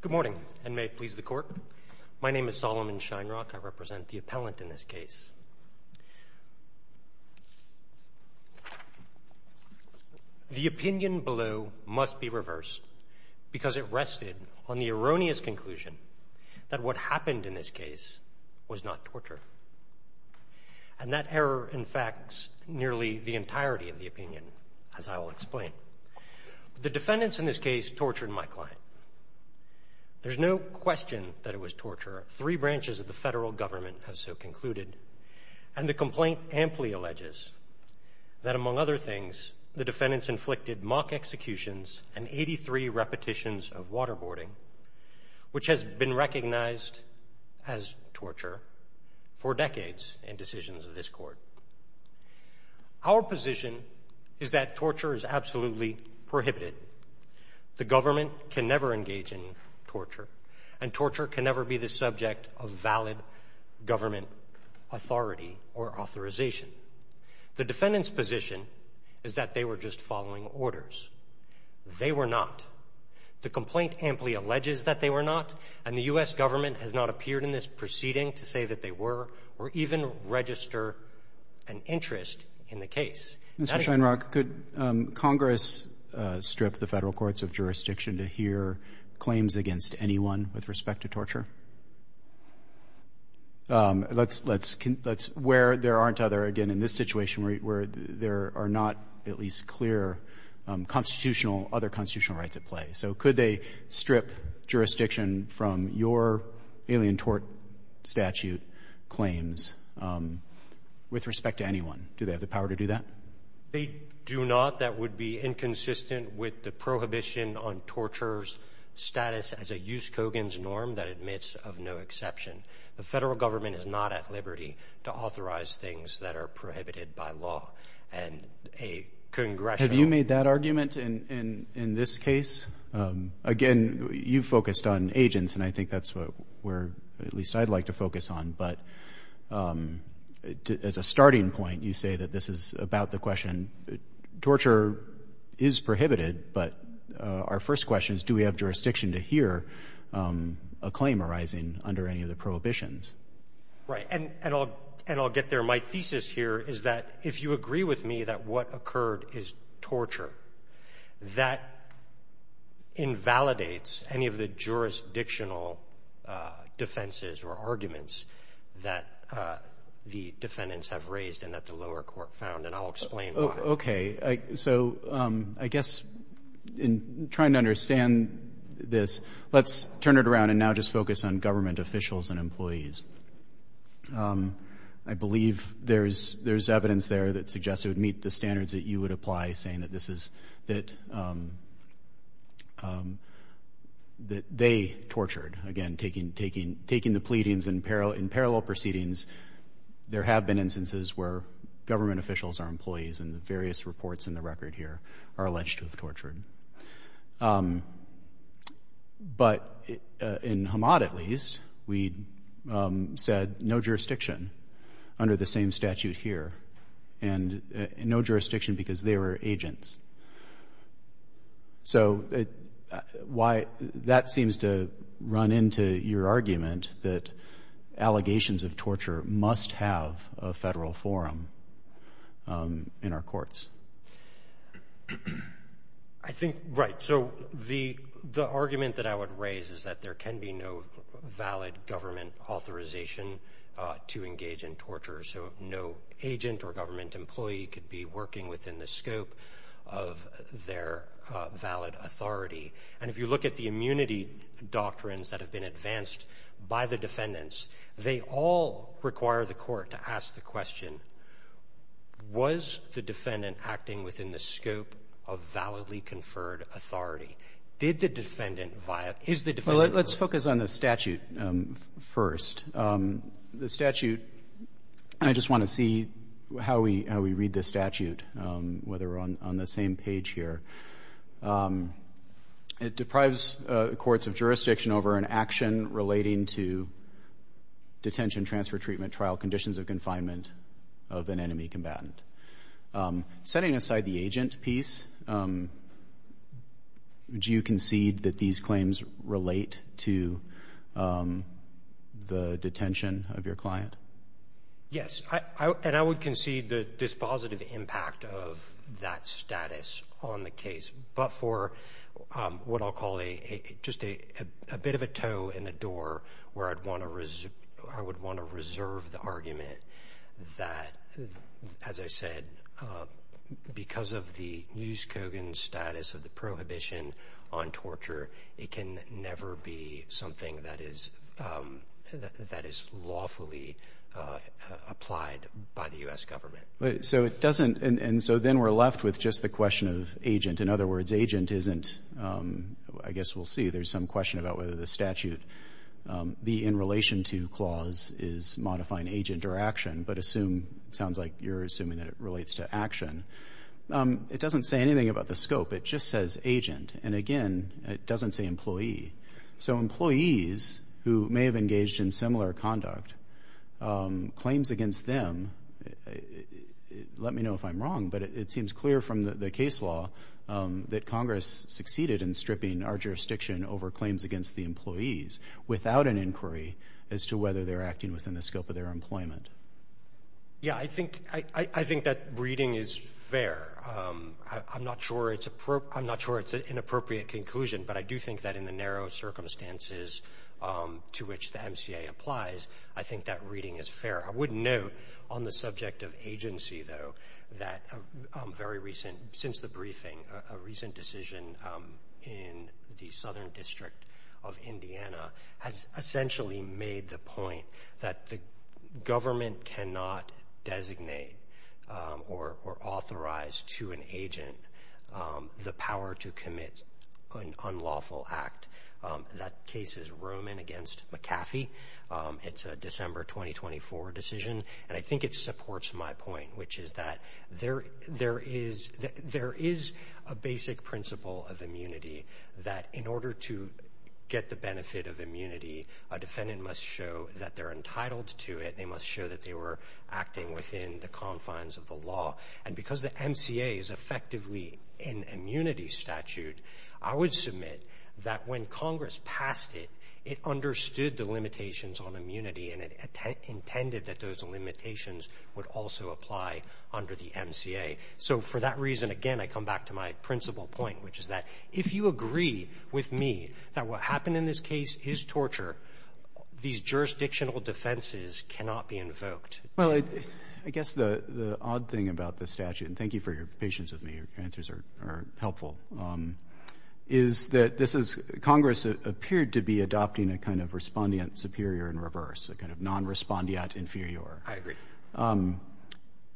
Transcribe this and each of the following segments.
Good morning, and may it please the Court. My name is Solomon Shinerock. I represent the appellant in this case. The opinion below must be reversed, because it rested on the erroneous conclusion that what happened in this case was not torture. And that error in fact is nearly the entirety of the opinion, as I will explain. The defendants in this case tortured my client. There's no question that it was torture. Three branches of the federal government have so concluded. And the complaint amply alleges that, among other things, the defendants inflicted mock executions and 83 repetitions of waterboarding, which has been recognized as torture for decades in decisions of this Court. Our position is that torture is absolutely prohibited. The government can never engage in torture, and torture can never be the subject of valid government authority or authorization. The defendant's position is that they were just following orders. They were not. The complaint amply alleges that they were not, and the U.S. government has not appeared in this proceeding to say that they were or even register an interest in the case. Mr. Sheinrock, could Congress strip the Federal courts of jurisdiction to hear claims against anyone with respect to torture? Let's where there aren't other, again, in this situation where there are not at least clear constitutional, other constitutional rights at play. So could they strip jurisdiction from your alien tort statute claims with respect to anyone? Do they have the power to do that? They do not. That would be inconsistent with the Prohibition on Torture's status as a Jus Cogens norm that admits of no exception. The Federal government is not at liberty to authorize things that are prohibited by law. And a congressional Have you made that argument in this case? Again, you focused on agents, and I think that's what we're at least I'd like to focus on. But as a starting point, you say that this is about the question. Torture is prohibited, but our first question is, do we have jurisdiction to hear a claim arising under any of the prohibitions? Right. And I'll get there. My thesis here is that if you agree with me that what occurred is torture, that invalidates any of the jurisdictional defenses or arguments that the defendants have raised and that the lower court found. And I'll explain why. Okay. So I guess in trying to understand this, let's turn it around and now just focus on government officials and employees. I believe there's evidence there that suggests it would meet the standards that you would apply, saying that this is that they tortured. Again, taking the pleadings in parallel proceedings, there have been instances where government officials or employees in the various reports in the record here are alleged to have tortured. But in Hamad, at least, we said no jurisdiction under the same statute here. And no jurisdiction because they were agents. So that seems to run into your argument that allegations of torture must have a federal forum in our courts. I think, right. So the argument that I would raise is that there can be no valid government authorization to engage in torture. So no agent or government employee could be working within the scope of their valid authority. And if you look at the immunity doctrines that have been advanced by the defendants, they all require the court to ask the question, was the defendant acting within the scope of validly conferred authority? Did the defendant Let's focus on the statute first. The statute, and I just want to see how we read this statute, whether we're on the same page here. It deprives courts of jurisdiction over an action relating to detention, transfer, treatment, trial, conditions of confinement of an enemy combatant. Setting aside the agent piece, do you concede that these claims relate to the detention of your client? Yes. And I would concede the dispositive impact of that status on the case. But for what I'll call a just a bit of a toe in the door where I'd want to I would want to reserve the argument that, as I said, because of the Nusskogen status of the prohibition on torture, it can never be something that is that is lawfully applied by the U.S. government. So it doesn't. And so then we're left with just the question of agent. In other words, agent isn't I guess we'll see. There's some question about whether the statute be in relation to clause is modifying agent or action. But assume it sounds like you're assuming that it relates to action. It doesn't say anything about the scope. It just says agent. And again, it doesn't say employee. So employees who may have engaged in similar conduct claims against them. Let me know if I'm wrong, but it seems clear from the case law that Congress succeeded in stripping our jurisdiction over claims against the employees without an inquiry as to whether they're acting within the scope of their employment. Yeah, I think I think that reading is fair. I'm not sure it's a I'm not sure it's an appropriate conclusion, but I do think that in the narrow circumstances to which the M.C.A. applies, I think that reading is fair. I wouldn't know on the subject of agency, though, that very recent since the briefing, a recent decision in the southern district of Indiana has essentially made the point that the government cannot designate or authorize to an agent the power to commit an unlawful act. That case is Roman against McAfee. It's a December 2024 decision. And I think it supports my point, which is that there there is there is a basic principle of immunity that in order to get the benefit of immunity, a defendant must show that they're entitled to it. They must show that they were acting within the confines of the law. And because the M.C.A. is effectively an immunity statute, I would submit that when Congress passed it, it understood the limitations on immunity, and it intended that those limitations would also apply under the M.C.A. So for that reason, again, I come back to my principal point, which is that if you agree with me that what happened in this case is torture, these jurisdictional defenses cannot be invoked. Well, I guess the odd thing about the statute, and thank you for your patience with me. Your answers are helpful, is that this is Congress appeared to be adopting a kind of respondent superior and reverse, a kind of non respondeat inferior. I agree.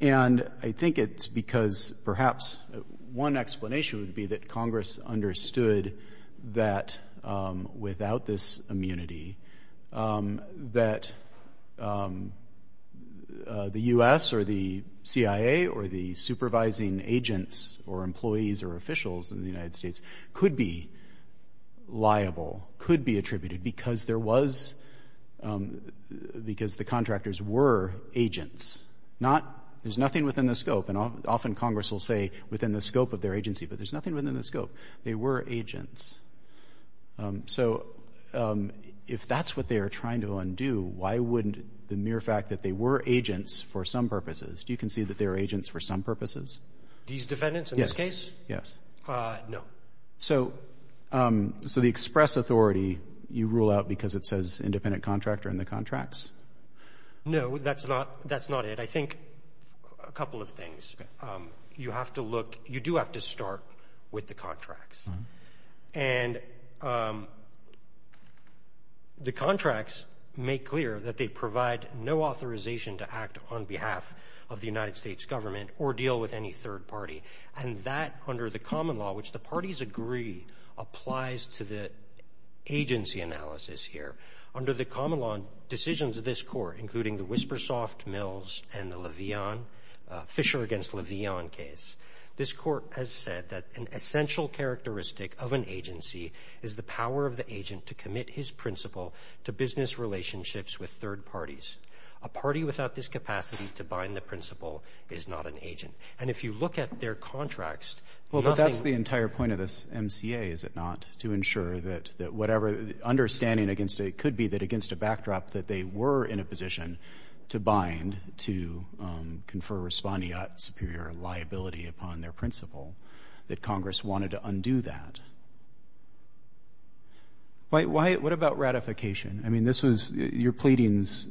And I think it's because perhaps one explanation would be that Congress understood that without this immunity that the U.S. or the C.I.A. or the supervising agents or employees or officials in the United States could be liable, could be attributed, because there was — because the contractors were agents, not — there's nothing within the scope. And often Congress will say within the scope of their agency, but there's nothing within the scope. They were agents. So if that's what they are trying to undo, why wouldn't the mere fact that they were agents for some purposes? Do you concede that they were agents for some purposes? These defendants in this case? No. So the express authority, you rule out because it says independent contractor in the contracts? No, that's not it. I think a couple of things. Okay. You have to look — you do have to start with the contracts. And the contracts make clear that they provide no authorization to act on behalf of the United States government or deal with any third party. And that, under the common law, which the parties agree, applies to the agency analysis here. Under the common law, decisions of this Court, including the Whispersoft, Mills, and the Le'Veon — Fisher v. Le'Veon case, this Court has said that an essential characteristic of an agency is the power of the agent to commit his principle to business relationships with third parties. A party without this capacity to bind the principle is not an agent. And if you look at their contracts, nothing — Well, but that's the entire point of this MCA, is it not, to ensure that whatever understanding against — it could be that against a backdrop that they were in a position to bind, to confer respondeat superior liability upon their principle, that Congress wanted to undo that? Why — what about ratification? I mean, this was — your pleadings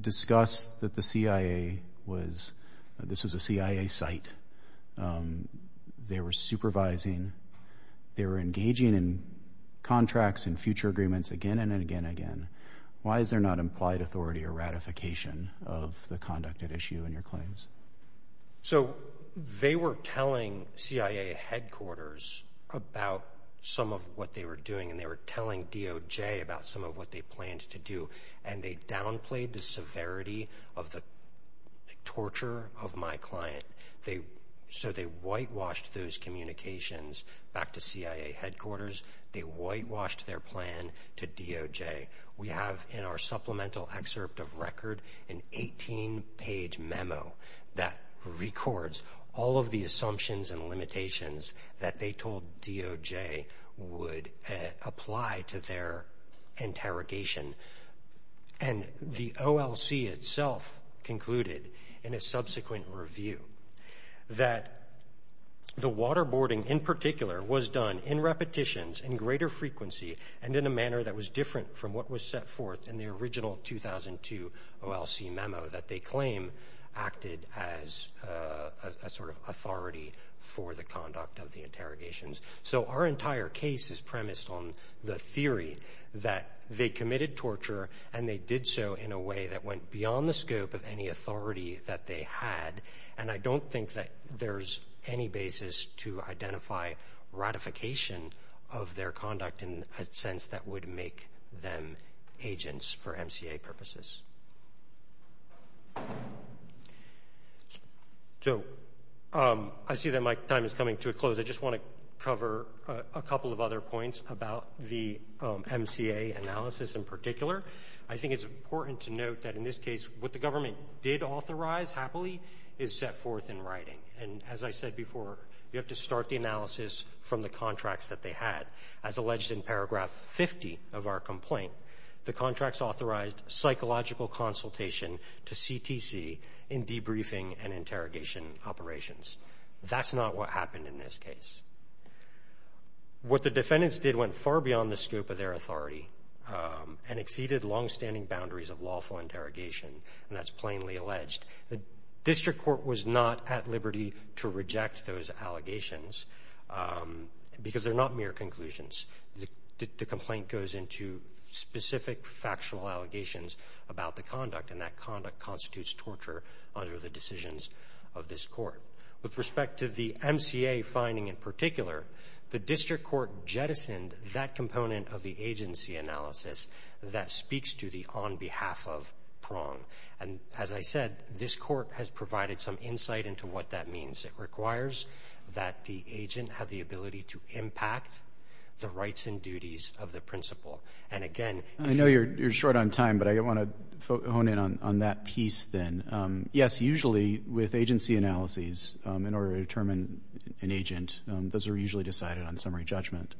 discussed that the CIA was — this was a CIA site. They were supervising. They were engaging in contracts and future agreements again and again and again. Why is there not implied authority or ratification of the conducted issue in your claims? So, they were telling CIA headquarters about some of what they were doing, and they were telling DOJ about some of what they planned to do. And they downplayed the severity of the torture of my client. So, they whitewashed those communications back to CIA headquarters. They whitewashed their plan to DOJ. We have in our supplemental excerpt of record an 18-page memo that records all of the assumptions and limitations that they told DOJ would apply to their interrogation. And the OLC itself concluded in a subsequent review that the waterboarding in particular was done in repetitions, in greater frequency, and in a manner that was different from what was set forth in the original 2002 OLC memo that they claim acted as a sort of authority for the conduct of the interrogations. So, our entire case is premised on the theory that they committed torture, and they did so in a way that went beyond the scope of any authority that they had. And I don't think that there's any basis to identify ratification of their conduct in a sense that would make them agents for MCA purposes. So, I see that my time is coming to a close. I just want to cover a couple of other points about the MCA analysis in particular. I think it's important to note that in this case, what the government did authorize happily is set forth in writing. And as I said before, you have to start the analysis from the contracts that they had. As alleged in paragraph 50 of our complaint, the contracts authorized psychological consultation to CTC in debriefing and interrogation operations. That's not what happened in this case. What the defendants did went far beyond the scope of their authority and exceeded longstanding boundaries of lawful interrogation, and that's plainly alleged. The district court was not at liberty to reject those allegations because they're not mere conclusions. The complaint goes into specific factual allegations about the conduct, and that conduct constitutes torture under the decisions of this court. With respect to the MCA finding in particular, the district court jettisoned that component of the agency analysis that speaks to the on behalf of the agency. It requires that the agent have the ability to impact the rights and duties of the principal. And again, I know you're short on time, but I want to hone in on that piece then. Yes, usually with agency analyses in order to determine an agent, those are usually decided on summary judgment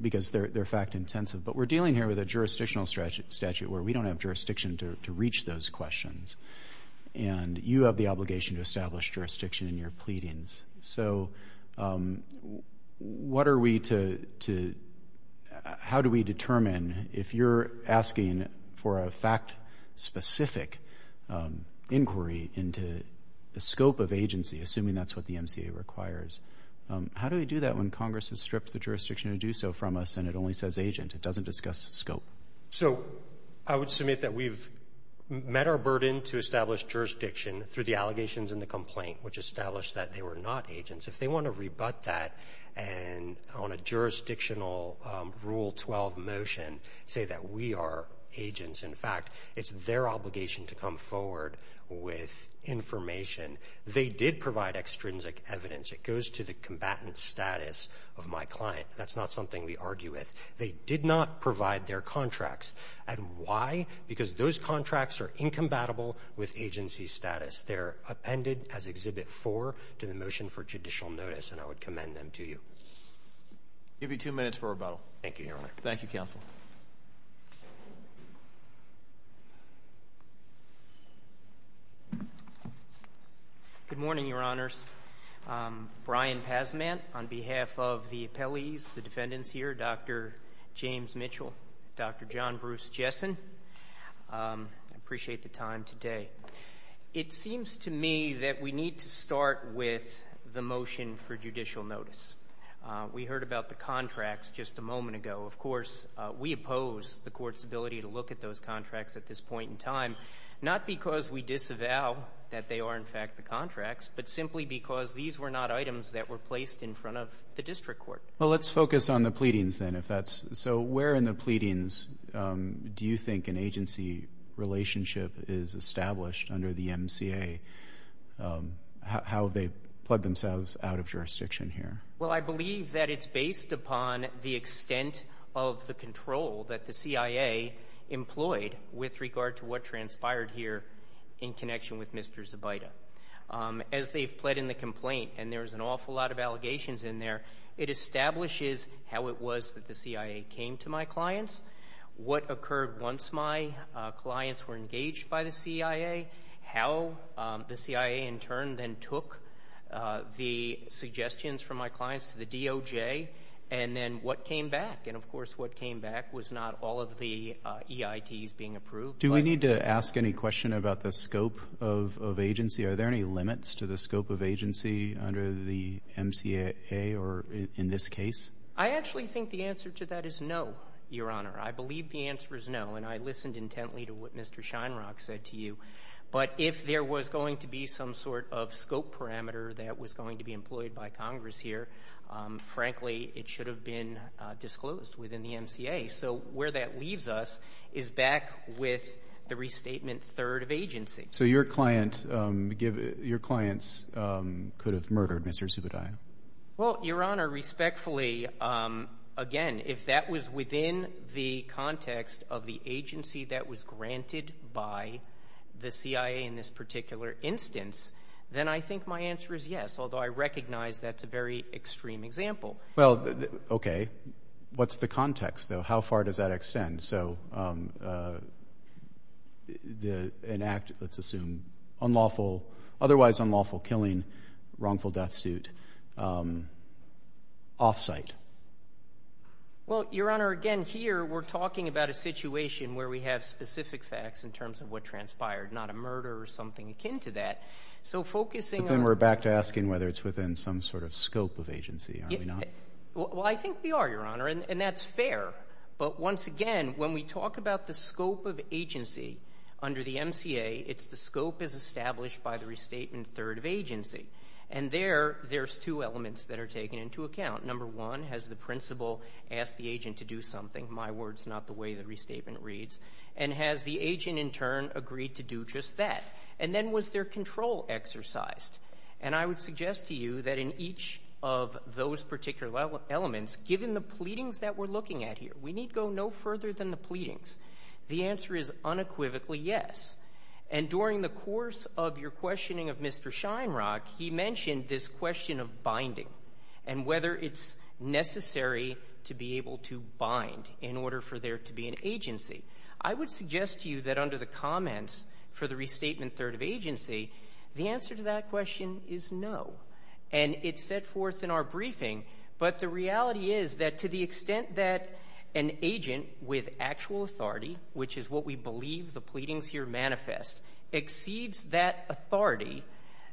because they're fact intensive. But we're dealing here with a jurisdictional statute where we don't have jurisdiction to reach those questions. And you have the obligation to establish jurisdiction in your pleadings. So how do we determine if you're asking for a fact specific inquiry into the scope of agency, assuming that's what the MCA requires? How do we do that when Congress has stripped the jurisdiction to do so from us and it only says agent? It doesn't discuss scope. I would submit that we've met our burden to establish jurisdiction through the allegations in the complaint, which established that they were not agents. If they want to rebut that on a jurisdictional Rule 12 motion, say that we are agents, in fact, it's their obligation to come forward with information. They did provide extrinsic evidence. It goes to the combatant status of my client. That's not something we argue with. They did not provide their contracts. And why? Because those contracts are incompatible with agency status. They're appended as Exhibit 4 to the motion for judicial notice, and I would commend them to you. I'll give you two minutes for rebuttal. Thank you, Your Honor. Thank you, Counsel. Good morning, Your Honors. Brian Pasman on behalf of the appellees, the defendants here, Dr. James Mitchell, Dr. John Bruce Jessen. I appreciate the time today. It seems to me that we need to start with the motion for judicial notice. We heard about the contracts just a moment ago. Of course, we oppose the Court's ability to look at those contracts at this point in time, not because we disavow that they are, in fact, the contracts, but simply because these were not items that were placed in front of the District Court. Well, let's focus on the pleadings, then, if that's so. Where in the pleadings do you think an agency relationship is established under the MCA? How have they pled themselves out of jurisdiction here? Well, I believe that it's based upon the extent of the control that the CIA employed with regard to what transpired here in connection with Mr. Zabita. As they've pled in the complaint, and there's an awful lot of allegations in there, it establishes how it was that the CIA came to my clients, what occurred once my clients were engaged by the CIA, how the CIA, in turn, then took the suggestions from my clients to the DOJ, and then what came back. And, of course, what came back was not all of the EITs being approved. Do we need to ask any question about the scope of agency? Are there any limits to the scope of agency under the MCA, or in this case? I actually think the answer to that is no, Your Honor. I believe the answer is no, and I listened intently to what Mr. Sheinrock said to you. But if there was going to be some sort of scope parameter that was going to be employed by Congress here, frankly, it should have been disclosed within the MCA. So where that leaves us is back with the restatement third of agency. So your clients could have murdered Mr. Zubedaya? Well, Your Honor, respectfully, again, if that was within the context of the agency that was granted by the CIA in this particular instance, then I think my answer is yes, although I recognize that's a very extreme example. Well, okay. What's the context, though? How far does that extend? An act, let's assume, otherwise unlawful killing, wrongful death suit, off-site? Well, Your Honor, again, here we're talking about a situation where we have specific facts in terms of what transpired, not a murder or something akin to that. But then we're back to asking whether it's within some sort of scope of agency, are we not? Well, I think we are, Your Honor, and that's fair. But once again, when we talk about the scope of agency under the MCA, it's the scope as established by the restatement third of agency. And there, there's two elements that are taken into account. Number one, has the principal asked the agent to do something? My word's not the way the restatement reads. And has the agent, in turn, agreed to do just that? And then was their control exercised? And I would suggest to you that in each of those particular elements, given the pleadings that we're looking at here, we need go no further than the pleadings. The answer is unequivocally yes. And during the course of your questioning of Mr. Shinerock, he mentioned this question of binding and whether it's necessary to be able to bind in order for there to be an agency. I would suggest to you that under the comments for the restatement third of agency, the answer to that question is no. And it's set forth in our briefing. But the reality is that to the extent that an agent with actual authority, which is what we believe the pleadings here manifest, exceeds that authority,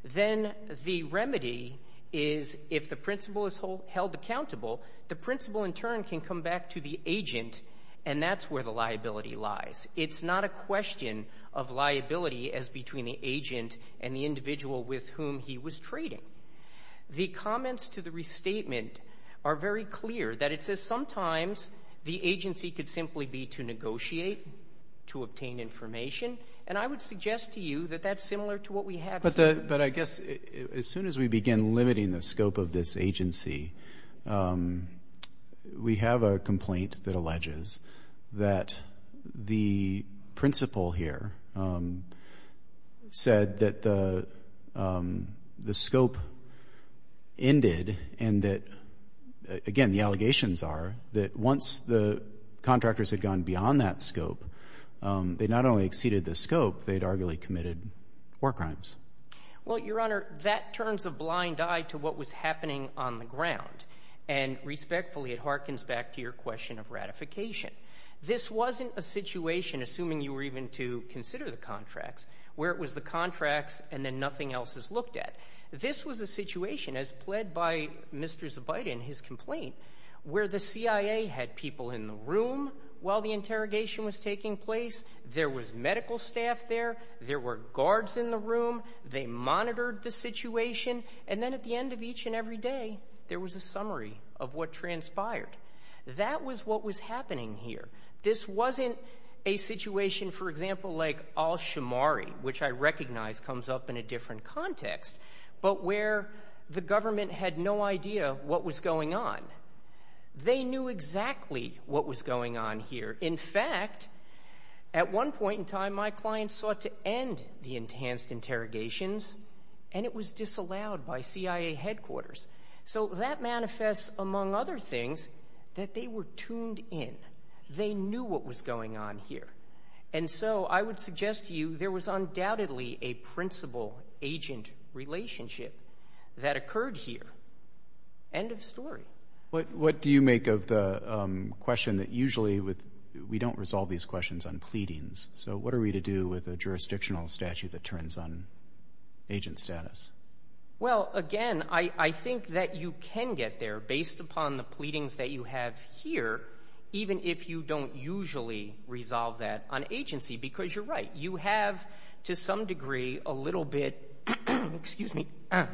then the remedy is if the principal is held accountable, the principal, in turn, can come back to the agent, and that's where the liability lies. It's not a question of liability as between the agent and the individual with whom he was trading. The comments to the restatement are very clear that it says sometimes the agency could simply be to negotiate, to obtain information. And I would suggest to you that that's similar to what we have. But I guess as soon as we begin limiting the scope of this agency, we have a complaint that alleges that the principal here said that the scope ended and that, again, the allegations are that once the contractors had gone beyond that scope, they not only exceeded the scope, they had arguably committed war crimes. Well, Your Honor, that turns a blind eye to what was happening on the ground. And respectfully, it harkens back to your question of ratification. This wasn't a situation, assuming you were even to consider the contracts, where it was the contracts and then nothing else is looked at. This was a situation, as pled by Mr. Zabaite in his complaint, where the CIA had people in the room while the interrogation was taking place. There was medical staff there. There were guards in the room. They monitored the situation. And then at the end of each and every day, there was a summary of what transpired. That was what was happening here. This wasn't a situation, for example, that was up in a different context, but where the government had no idea what was going on. They knew exactly what was going on here. In fact, at one point in time, my client sought to end the enhanced interrogations, and it was disallowed by CIA headquarters. So that manifests, among other things, that they were tuned in. They knew what was going on here. And so I would suggest to you there was undoubtedly a principal-agent relationship that occurred here. End of story. What do you make of the question that usually we don't resolve these questions on pleadings? So what are we to do with a jurisdictional statute that turns on agent status? Well, again, I think that you can get there based upon the pleadings that you have here, even if you don't usually resolve that on agency, because you're right. You have, to some degree, a little bit, excuse me,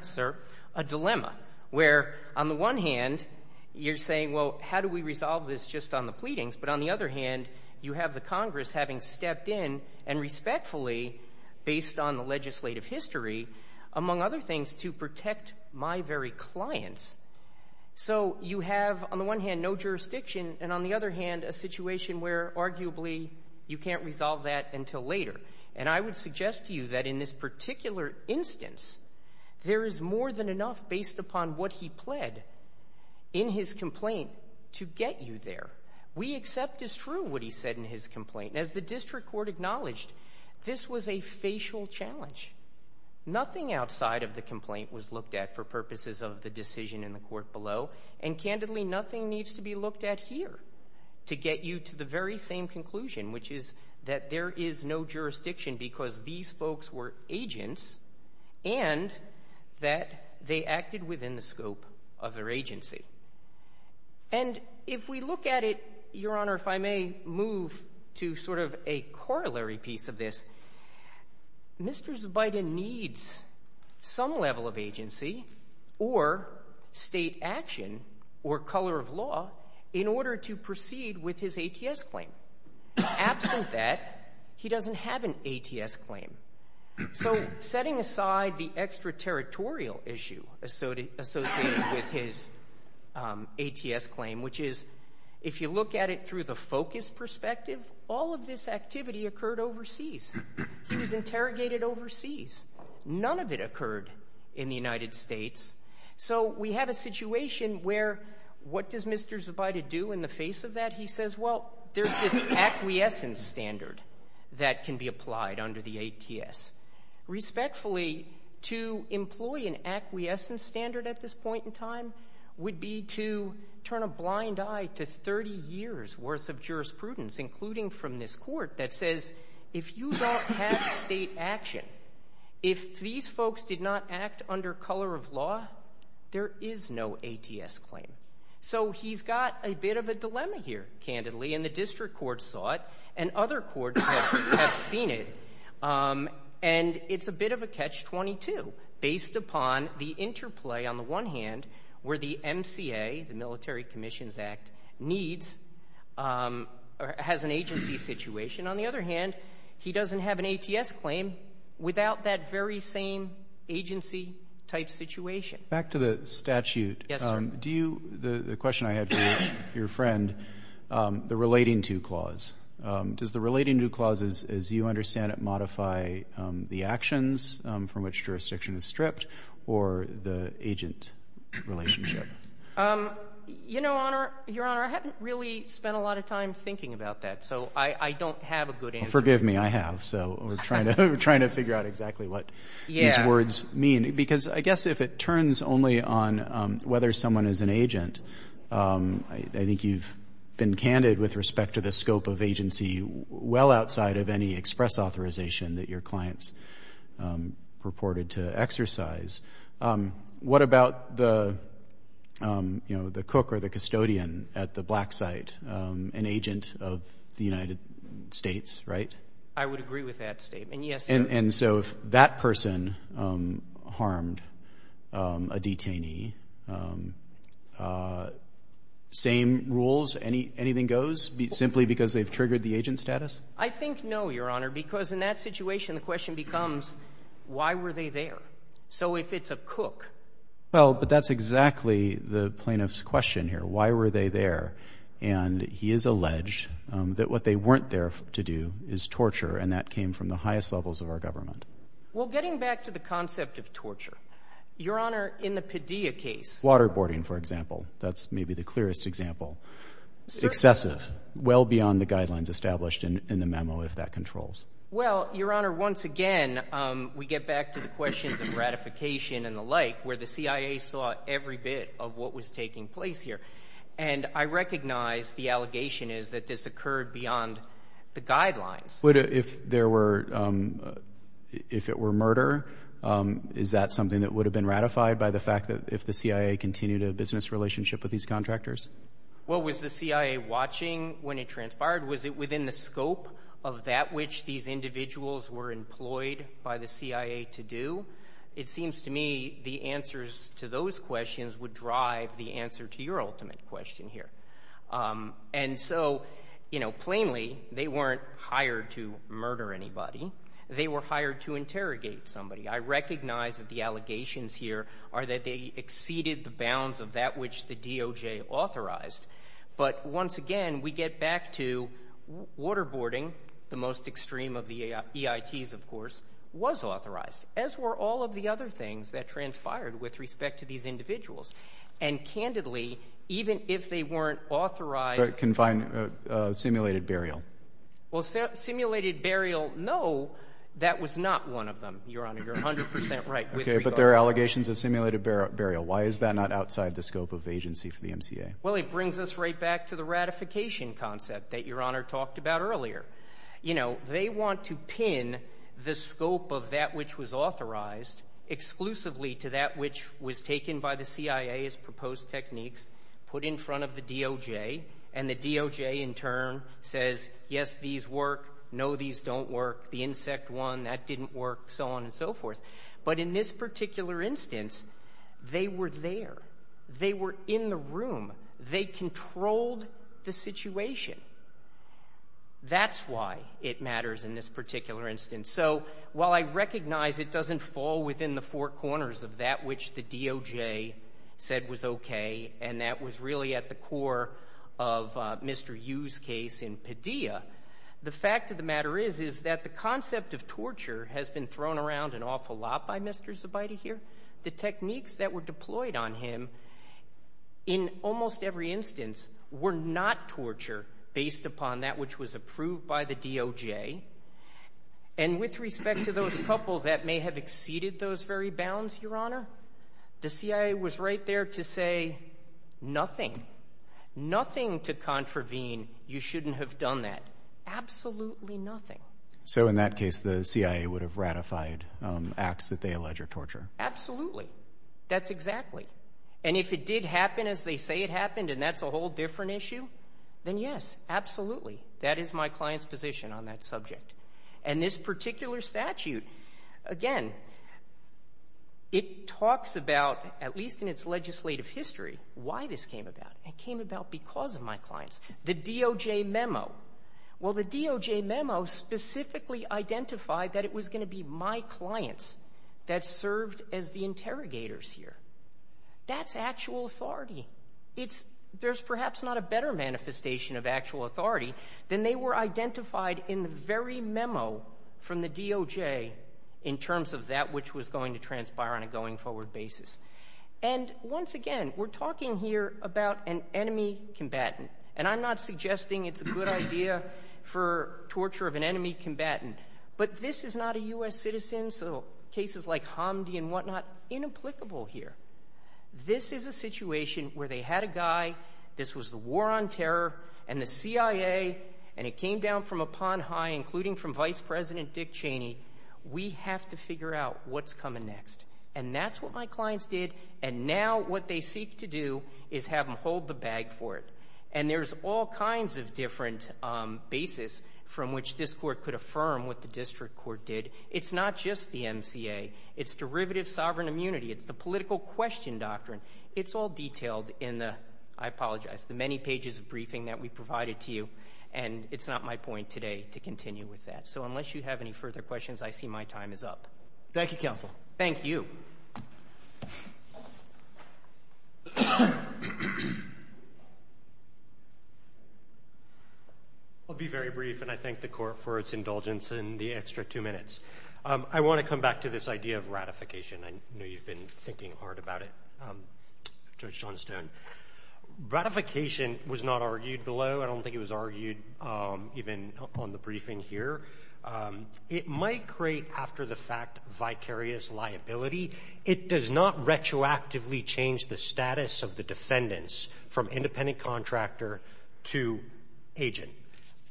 sir, a dilemma, where on the one hand, you're saying, well, how do we resolve this just on the pleadings? But on the other hand, you have the Congress having stepped in, and respectfully, based on the legislative history, among other things, to protect my very clients. So you have, on the one hand, no jurisdiction, and on the other hand, a situation where, arguably, you can't resolve that until later. And I would suggest to you that in this particular instance, there is more than enough, based upon what he pled, in his complaint, to get you there. We accept as true what he said in his complaint. And as the district court acknowledged, this was a facial challenge. Nothing outside of the complaint was looked at for purposes of the decision in the court below, and nothing needs to be looked at here to get you to the very same conclusion, which is that there is no jurisdiction, because these folks were agents, and that they acted within the scope of their agency. And if we look at it, Your Honor, if I may move to sort of a corollary piece of this, Mr. Biden needs some level of law in order to proceed with his ATS claim. Absent that, he doesn't have an ATS claim. So setting aside the extraterritorial issue associated with his ATS claim, which is, if you look at it through the focus perspective, all of this activity occurred overseas. He was interrogated overseas. None of it occurred in the United States. So we have a situation where, what does Mr. Zabida do in the face of that? He says, well, there's this acquiescence standard that can be applied under the ATS. Respectfully, to employ an acquiescence standard at this point in time would be to turn a blind eye to 30 years' worth of jurisprudence, including from this court, that says, if you don't have State action, if these folks did not act under color of law, there is no ATS claim. So he's got a bit of a dilemma here, candidly, and the district court saw it, and other courts have seen it. And it's a bit of a catch-22, based upon the interplay, on the one hand, where the MCA, the Military Commissions Act, has an agency situation. On the other hand, he doesn't have an ATS claim without that very same agency-type situation. Roberts. Back to the statute. Yes, sir. Do you — the question I had for you, your friend, the relating-to clause. Does the relating-to clause, as you understand it, modify the actions from which jurisdiction is stripped, or the agent relationship? You know, Your Honor, I haven't really spent a lot of time thinking about that, so I don't have a good answer. Well, forgive me, I have. So we're trying to figure out exactly what these words mean. Because I guess if it turns only on whether someone is an agent, I think you've been candid with respect to the scope of agency, well outside of any express authorization that your clients purported to exercise. What about the cook or the custodian at the black site, an agent of the United States, right? I would agree with that statement, yes, sir. And so if that person harmed a detainee, same rules, anything goes, simply because they've triggered the agent status? I think no, Your Honor, because in that situation, the question becomes, why were they there? So if it's a cook — Well, but that's exactly the plaintiff's question here. Why were they there? And he has alleged that what they weren't there to do is torture, and that came from the highest levels of our government. Well, getting back to the concept of torture, Your Honor, in the Padilla case — Waterboarding, for example. That's maybe the clearest example. Excessive, well beyond the guidelines established in the memo, if that controls. Well, Your Honor, once again, we get back to the questions of ratification and the like, where the CIA saw every bit of what was taking place here. And I recognize the allegation is that this occurred beyond the guidelines. But if there were — if it were murder, is that something that would have been ratified by the fact that if the CIA continued a business relationship with these contractors? Well, was the CIA watching when it transpired? Was it within the scope of that which these individuals were employed by the CIA to do? It seems to me the answers to those questions would drive the answer to your ultimate question here. And so, you know, plainly, they weren't hired to murder anybody. They were hired to interrogate somebody. I recognize that the allegations here are that they exceeded the bounds of that which the DOJ authorized. But once again, we get back to waterboarding, the most extreme of the EITs, of course, was authorized, as were all of the other things that transpired with respect to these individuals. And candidly, even if they weren't authorized — But confined simulated burial. Well, simulated burial, no, that was not one of them, Your Honor. You're 100 percent right with regard to that. Okay. But there are allegations of simulated burial. Why is that not outside the scope of agency for the MCA? Well, it brings us right back to the ratification concept that Your Honor talked about earlier. You know, they want to pin the scope of that which was authorized exclusively to that which was taken by the CIA as proposed techniques, put in front of the DOJ, and the DOJ in turn says, yes, these work, no, these don't work, the insect one, that didn't work, so on and so forth. But in this particular instance, they were there. They were in the room. They controlled the situation. That's why it matters in this particular instance. And so while I recognize it doesn't fall within the four corners of that which the DOJ said was okay and that was really at the core of Mr. Yu's case in Padilla, the fact of the matter is, is that the concept of torture has been thrown around an awful lot by Mr. Zabideh here. The techniques that were deployed on him in almost every instance were not torture based upon that which was approved by the DOJ. And with respect to those couple that may have exceeded those very bounds, Your Honor, the CIA was right there to say nothing, nothing to contravene. You shouldn't have done that. Absolutely nothing. So in that case, the CIA would have ratified acts that they allege are torture. Absolutely. That's exactly. And if it did happen as they say it happened and that's a whole different issue, then yes, absolutely. That is my client's position on that subject. And this particular statute, again, it talks about, at least in its legislative history, why this came about. It came about because of my clients. The DOJ memo. Well, the DOJ memo specifically identified that it was going to be my clients that served as the interrogators here. That's actual authority. There's perhaps not a better manifestation of actual authority than they were identified in the very memo from the DOJ in terms of that which was going to transpire on a going forward basis. And once again, we're talking here about an enemy combatant. And I'm not suggesting it's a good idea for torture of an enemy combatant. But this is not a U.S. citizen, so cases like Hamdi and a guy, this was the war on terror, and the CIA, and it came down from upon high, including from Vice President Dick Cheney. We have to figure out what's coming next. And that's what my clients did. And now what they seek to do is have them hold the bag for it. And there's all kinds of different basis from which this Court could affirm what the district court did. It's not just the MCA. It's derivative sovereign immunity. It's the political question doctrine. It's all detailed in the, I apologize, the many pages of briefing that we provided to you. And it's not my point today to continue with that. So unless you have any further questions, I see my time is up. Thank you, Counsel. Thank you. I'll be very brief, and I thank the Court for its indulgence in the extra two minutes. I want to come back to this idea of ratification. I know you've been thinking hard about it, Judge Johnstone. Ratification was not argued below. I don't think it was argued even on the briefing here. It might create, after the fact, vicarious liability. It does not retroactively change the status of the defendants from independent contractor to agent.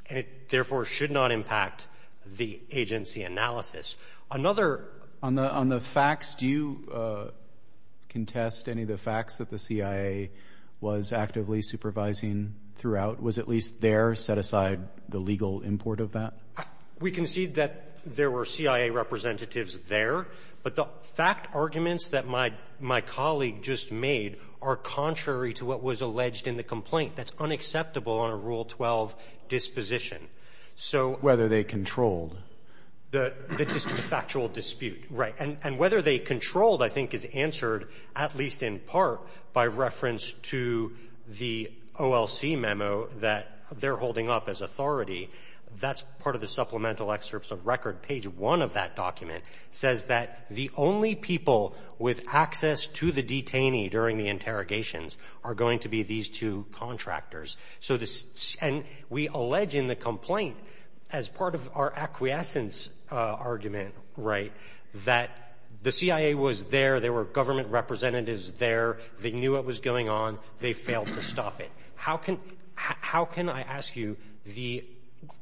And it, therefore, should not impact the agency analysis. Another ---- On the facts, do you contest any of the facts that the CIA was actively supervising throughout, was at least there, set aside the legal import of that? We concede that there were CIA representatives there. But the fact arguments that my colleague just made are contrary to what was alleged in the complaint. That's unacceptable on a Rule 12 disposition. So ---- But that's whether they controlled. The factual dispute. Right. And whether they controlled, I think, is answered, at least in part, by reference to the OLC memo that they're holding up as authority. That's part of the supplemental excerpts of record. Page 1 of that document says that the only people with access to the detainee during the interrogations are going to be these two contractors. So this ---- And we allege in the complaint, as part of our acquiescence argument, right, that the CIA was there, there were government representatives there, they knew what was going on, they failed to stop it. How can ---- How can I ask you, the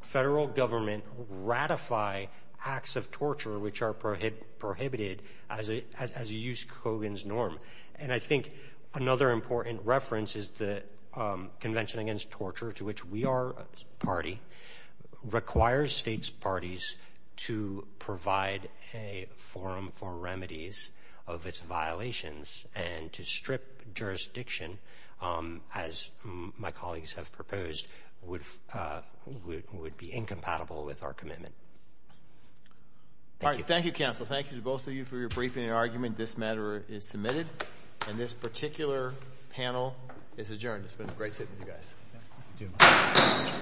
Federal Government ratify acts of torture which are prohibited as a use Kogan's form? And I think another important reference is that Convention Against Torture, to which we are a party, requires states' parties to provide a forum for remedies of its violations and to strip jurisdiction, as my colleagues have proposed, would be incompatible with our commitment. All right. Thank you, Counsel. Thank you to both of you for your briefing and your argument. This matter is submitted and this particular panel is adjourned. It's been a great sitting with you guys.